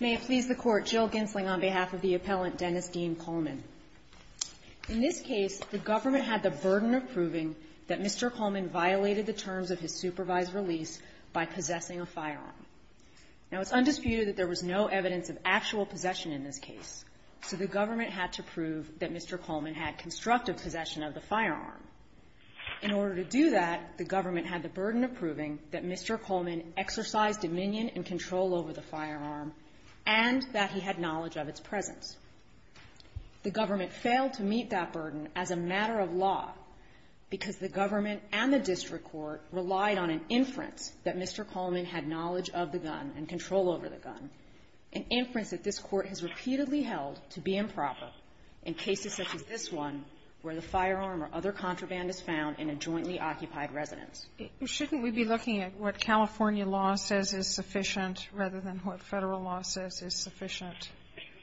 May it please the Court, Jill Gensling on behalf of the appellant, Dennis Dean Coleman. In this case, the government had the burden of proving that Mr. Coleman violated the terms of his supervised release by possessing a firearm. Now, it's undisputed that there was no evidence of actual possession in this case, so the government had to prove that Mr. Coleman had constructive possession of the firearm. In order to do that, the government had the burden of proving that Mr. Coleman exercised dominion and control over the firearm and that he had knowledge of its presence. The government failed to meet that burden as a matter of law because the government and the district court relied on an inference that Mr. Coleman had knowledge of the gun and control over the gun, an inference that this Court has repeatedly held to be improper in cases such as this one where the firearm or other contraband is found in a jointly occupied residence. Shouldn't we be looking at what California law says is sufficient rather than what Federal law says is sufficient?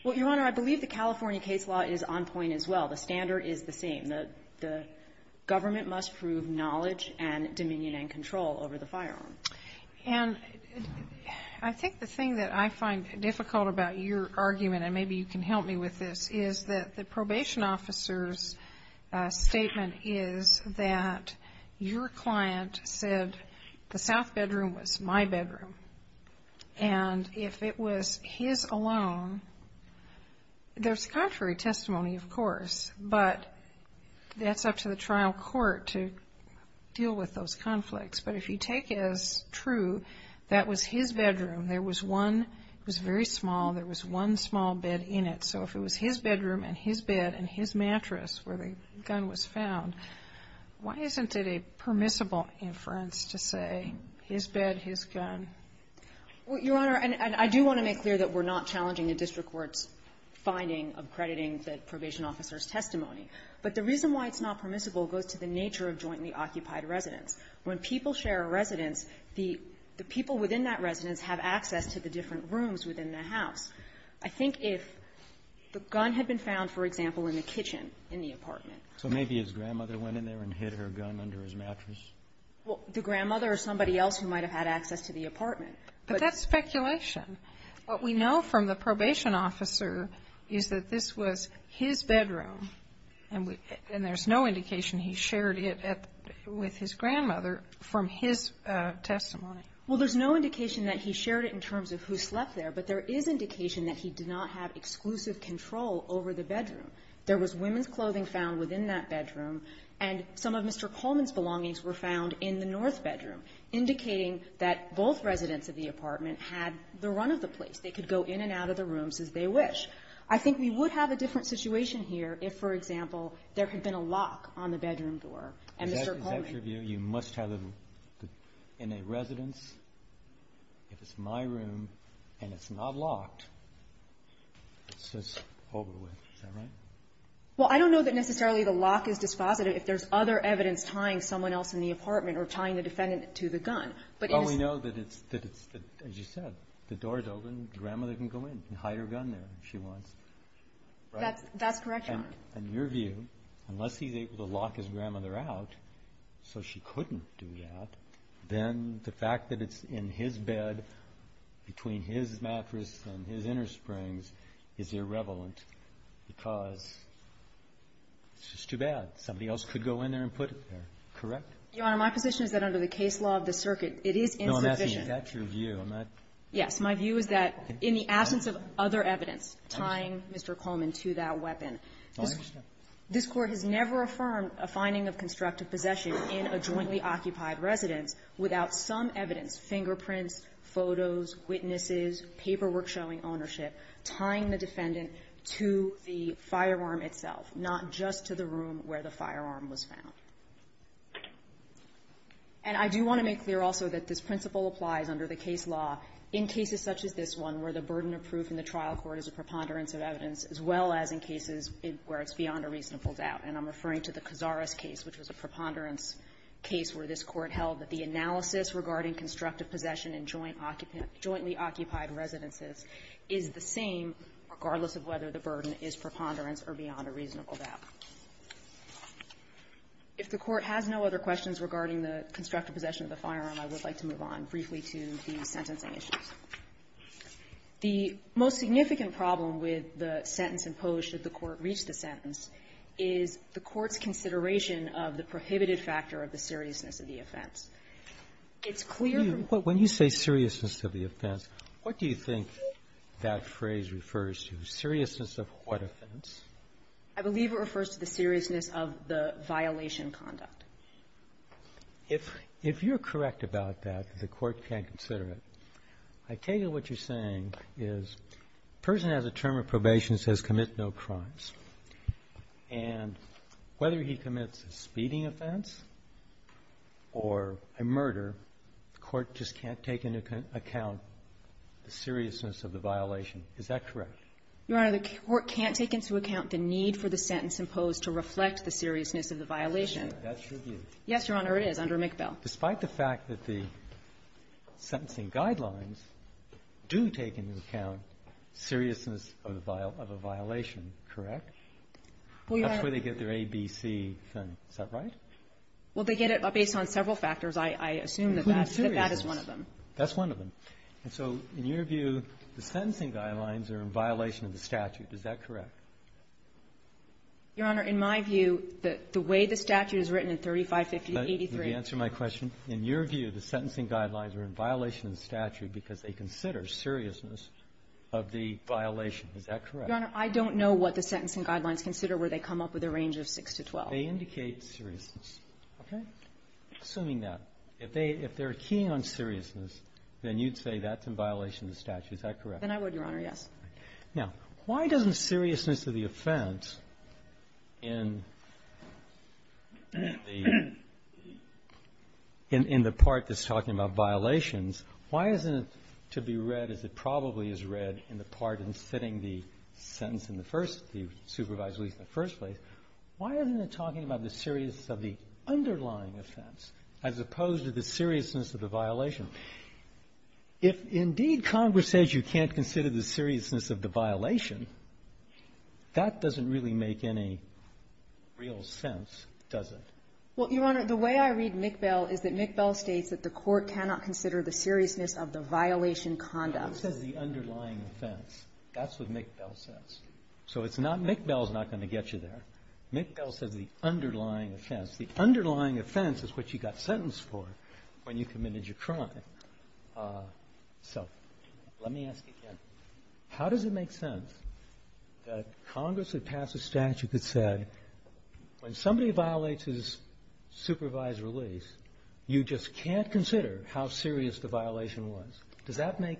Well, Your Honor, I believe the California case law is on point as well. The standard is the same. The government must prove knowledge and dominion and control over the firearm. And I think the thing that I find difficult about your argument, and maybe you can help me with this, is that the probation officer's statement is that your client said the south bedroom was my bedroom. And if it was his alone, there's contrary testimony, of course, but that's up to the trial court to deal with those conflicts. But if you take as true that was his bedroom, there was one, it was very small, there was one small bed in it. So if it was his bedroom and his bed and his mattress where the gun was found, why isn't it a permissible inference to say his bed, his gun? Well, Your Honor, and I do want to make clear that we're not challenging the district court's finding of crediting the probation officer's testimony. But the reason why it's not permissible goes to the nature of jointly occupied residence. When people share a residence, the people within that residence have access to the different rooms within the house. I think if the gun had been found, for example, in the kitchen in the apartment. So maybe his grandmother went in there and hid her gun under his mattress? Well, the grandmother or somebody else who might have had access to the apartment. But that's speculation. What we know from the probation officer is that this was his bedroom, and there's no indication he shared it with his grandmother. From his testimony. Well, there's no indication that he shared it in terms of who slept there. But there is indication that he did not have exclusive control over the bedroom. There was women's clothing found within that bedroom, and some of Mr. Coleman's belongings were found in the north bedroom, indicating that both residents of the apartment had the run of the place. They could go in and out of the rooms as they wish. I think we would have a different situation here if, for example, there had been a lock on the bedroom door. And Mr. Coleman. Is that your view? You must have in a residence, if it's my room and it's not locked, it's just over with. Is that right? Well, I don't know that necessarily the lock is dispositive. If there's other evidence tying someone else in the apartment or tying the defendant to the gun. Well, we know that it's, as you said, the door is open. Grandmother can go in and hide her gun there if she wants. That's correct, Your Honor. But in your view, unless he's able to lock his grandmother out so she couldn't do that, then the fact that it's in his bed between his mattress and his inner springs is irrelevant because it's just too bad. Somebody else could go in there and put it there. Correct? Your Honor, my position is that under the case law of the circuit, it is insufficient. No, I'm asking if that's your view. Yes. My view is that in the absence of other evidence tying Mr. Coleman to that weapon, this Court has never affirmed a finding of constructive possession in a jointly occupied residence without some evidence, fingerprints, photos, witnesses, paperwork showing ownership tying the defendant to the firearm itself, not just to the room where the firearm was found. And I do want to make clear also that this principle applies under the case law in cases such as this one where the burden of proof in the reasonable doubt. And I'm referring to the Cazares case, which was a preponderance case where this Court held that the analysis regarding constructive possession in jointly occupied residences is the same regardless of whether the burden is preponderance or beyond a reasonable doubt. If the Court has no other questions regarding the constructive possession of the firearm, I would like to move on briefly to the sentencing issues. The most significant problem with the sentence imposed should the Court reach the sentence is the Court's consideration of the prohibited factor of the seriousness of the offense. It's clear from the ---- When you say seriousness of the offense, what do you think that phrase refers to? Seriousness of what offense? I believe it refers to the seriousness of the violation conduct. If you're correct about that, the Court can consider it. I take it what you're saying is the person has a term of probation that says commit no crimes. And whether he commits a speeding offense or a murder, the Court just can't take into account the seriousness of the violation. Is that correct? Your Honor, the Court can't take into account the need for the sentence imposed to reflect the seriousness of the violation. That's your view. Yes, Your Honor, it is, under McBell. Despite the fact that the sentencing guidelines do take into account seriousness of a violation, correct? Well, Your Honor ---- That's where they get their ABC thing. Is that right? Well, they get it based on several factors. I assume that that is one of them. Including seriousness. That's one of them. And so in your view, the sentencing guidelines are in violation of the statute. Is that correct? Your Honor, in my view, the way the statute is written in 3550-83 ---- Let me answer my question. In your view, the sentencing guidelines are in violation of the statute because they consider seriousness of the violation. Is that correct? Your Honor, I don't know what the sentencing guidelines consider where they come up with a range of 6 to 12. They indicate seriousness. Okay? Assuming that. If they're keying on seriousness, then you'd say that's in violation of the statute. Is that correct? Then I would, Your Honor, yes. Now, why doesn't seriousness of the offense in the part that's talking about violations, why isn't it to be read as it probably is read in the part in setting the sentence in the first ---- the supervisory in the first place? Why isn't it talking about the seriousness of the underlying offense as opposed to the seriousness of the violation? If indeed Congress says you can't consider the seriousness of the violation, that doesn't really make any real sense, does it? Well, Your Honor, the way I read McBell is that McBell states that the court cannot consider the seriousness of the violation conduct. It says the underlying offense. That's what McBell says. So it's not ---- McBell's not going to get you there. McBell says the underlying offense. The underlying offense is what you got sentenced for when you committed your crime. So let me ask you again. How does it make sense that Congress would pass a statute that said when somebody violates his supervised release, you just can't consider how serious the violation was? Does that make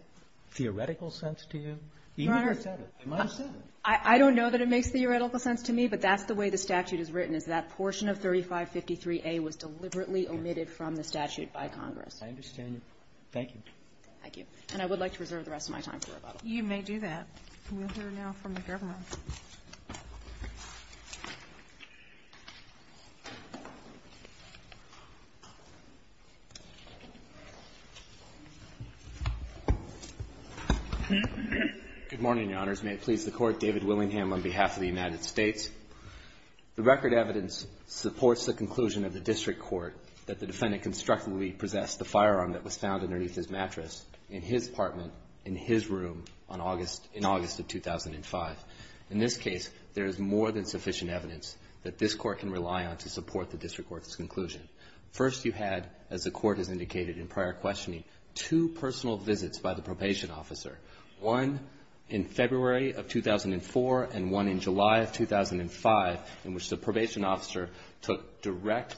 theoretical sense to you? Even if it said it, they might have said it. I don't know that it makes theoretical sense to me, but that's the way the statute is written, is that portion of 3553A was deliberately omitted from the statute by Congress. I understand your point. Thank you. Thank you. And I would like to reserve the rest of my time for rebuttal. You may do that. We'll hear now from the Governor. Good morning, Your Honors. May it please the Court, David Willingham on behalf of the United States. The record evidence supports the conclusion of the district court that the defendant constructively possessed the firearm that was found underneath his mattress in his apartment, in his room, in August of 2005. In this case, there is more than sufficient evidence that this Court can rely on to support the district court's conclusion. First, you had, as the Court has indicated in prior questioning, two personal visits by the probation officer, one in February of 2004 and one in July of 2005. In which the probation officer took direct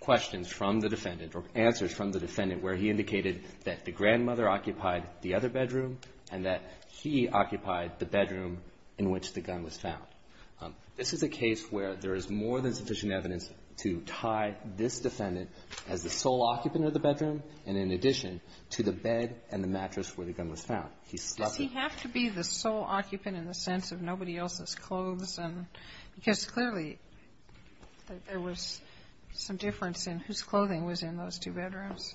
questions from the defendant or answers from the defendant where he indicated that the grandmother occupied the other bedroom and that he occupied the bedroom in which the gun was found. This is a case where there is more than sufficient evidence to tie this defendant as the sole occupant of the bedroom and in addition to the bed and the mattress where the gun was found. Does he have to be the sole occupant in the sense of nobody else's clothes? Because clearly there was some difference in whose clothing was in those two bedrooms.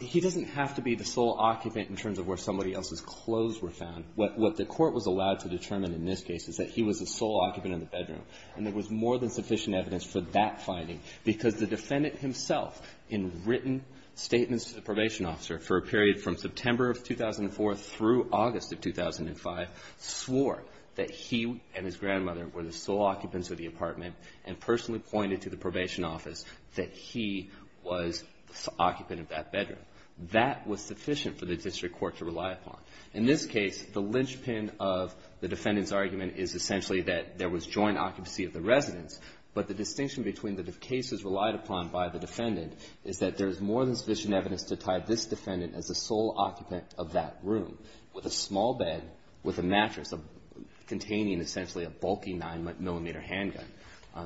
He doesn't have to be the sole occupant in terms of where somebody else's clothes were found. What the Court was allowed to determine in this case is that he was the sole occupant in the bedroom. And there was more than sufficient evidence for that finding because the defendant himself in written statements to the probation officer for a period from September of 2004 through August of 2005 swore that he and his grandmother were the sole occupants of the apartment and personally pointed to the probation office that he was the occupant of that bedroom. That was sufficient for the district court to rely upon. In this case, the linchpin of the defendant's argument is essentially that there was joint occupancy of the residence. But the distinction between the cases relied upon by the defendant is that there with a small bed with a mattress containing essentially a bulky 9-millimeter handgun.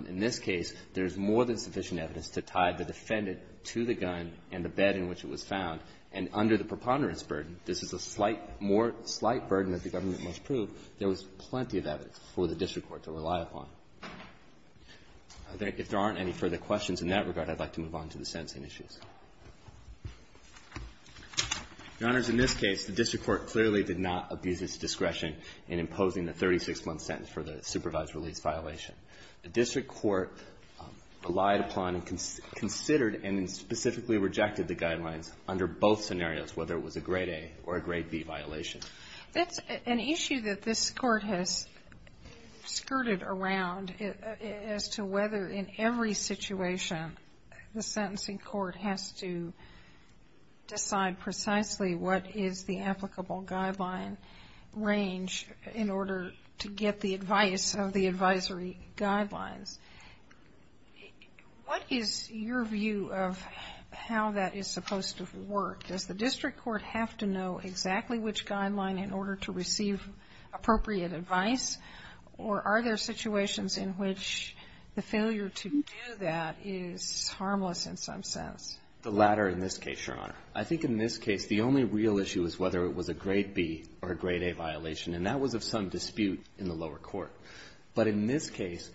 In this case, there's more than sufficient evidence to tie the defendant to the gun and the bed in which it was found. And under the preponderance burden, this is a slight more slight burden that the government must prove, there was plenty of evidence for the district court to rely upon. If there aren't any further questions in that regard, I'd like to move on to the sentencing issues. Your Honors, in this case, the district court clearly did not abuse its discretion in imposing the 36-month sentence for the supervised release violation. The district court relied upon and considered and specifically rejected the guidelines under both scenarios, whether it was a grade A or a grade B violation. That's an issue that this court has skirted around as to whether in every situation the sentencing court has to decide precisely what is the applicable guideline range in order to get the advice of the advisory guidelines. What is your view of how that is supposed to work? Does the district court have to know exactly which guideline in order to receive appropriate advice? Or are there situations in which the failure to do that is harmless in some sense? The latter in this case, Your Honor. I think in this case, the only real issue is whether it was a grade B or a grade A violation, and that was of some dispute in the lower court. But in this case,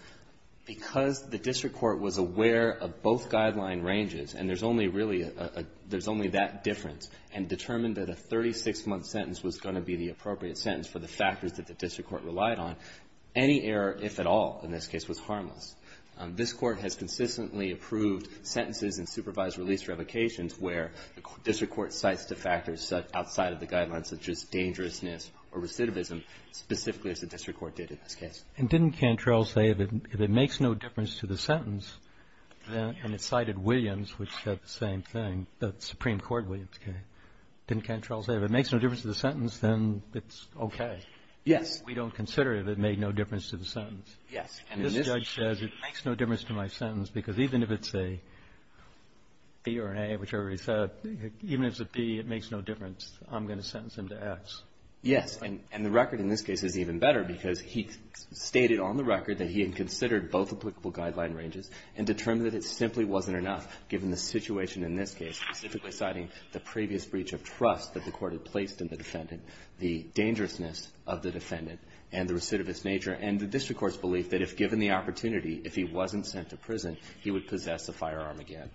because the district court was aware of both guideline ranges, and there's only really a — there's only that difference, and determined that a 36-month sentence was going to be the appropriate sentence for the factors that the district court relied on, any error, if at all, in this case, was harmless. This court has consistently approved sentences in supervised release revocations where the district court cites the factors outside of the guidelines, such as dangerousness or recidivism, specifically as the district court did in this case. And didn't Cantrell say if it makes no difference to the sentence, and it cited Williams, which said the same thing, the Supreme Court Williams case, didn't Cantrell say if it makes no difference to the sentence, then it's okay? Yes. We don't consider if it made no difference to the sentence. Yes. And this judge says it makes no difference to my sentence, because even if it's a B or an A, whichever he said, even if it's a B, it makes no difference. I'm going to sentence him to X. Yes. And the record in this case is even better, because he stated on the record that he had considered both applicable guideline ranges and determined that it simply wasn't enough, given the situation in this case, specifically citing the previous breach of trust that the court had placed in the defendant, the dangerousness of the defendant, and the recidivist nature, and the district court's belief that if given the opportunity, if he wasn't sent to prison, he would possess a firearm again.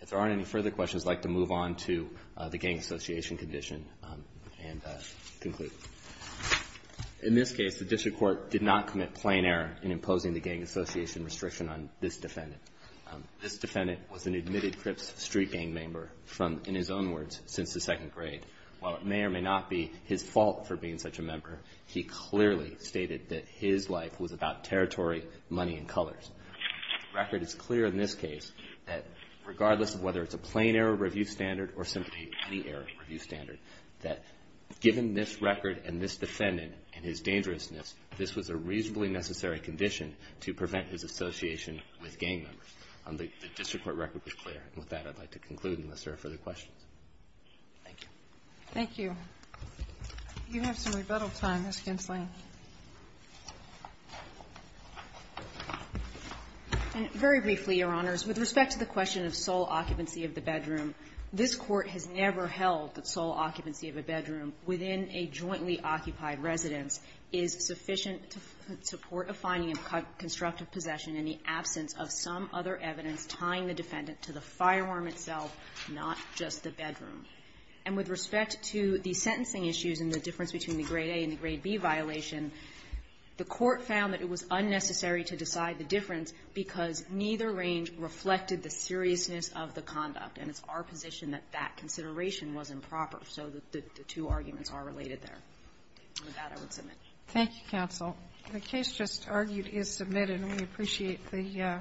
If there aren't any further questions, I'd like to move on to the gang association condition and conclude. In this case, the district court did not commit plain error in imposing the gang association restriction on this defendant. This defendant was an admitted Crips street gang member from, in his own words, since the second grade. While it may or may not be his fault for being such a member, he clearly stated that his life was about territory, money, and colors. The record is clear in this case that regardless of whether it's a plain error review standard or simply any error review standard, that given this record and this defendant and his dangerousness, this was a reasonably necessary condition to prevent his misdemeanors. The district court record was clear. And with that, I'd like to conclude unless there are further questions. Thank you. Kagan. Thank you. You have some rebuttal time, Ms. Gensley. Gensley. And very briefly, Your Honors, with respect to the question of sole occupancy of the bedroom, this Court has never held that sole occupancy of a bedroom within a jointly occupied residence is sufficient to support a finding of constructive possession in the absence of some other evidence tying the defendant to the firearm itself, not just the bedroom. And with respect to the sentencing issues and the difference between the grade A and the grade B violation, the Court found that it was unnecessary to decide the difference because neither range reflected the seriousness of the conduct. And it's our position that that consideration was improper. So the two arguments are related there. With that, I would submit. Thank you, counsel. The case just argued is submitted. And we appreciate the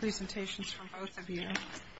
presentations from both of you.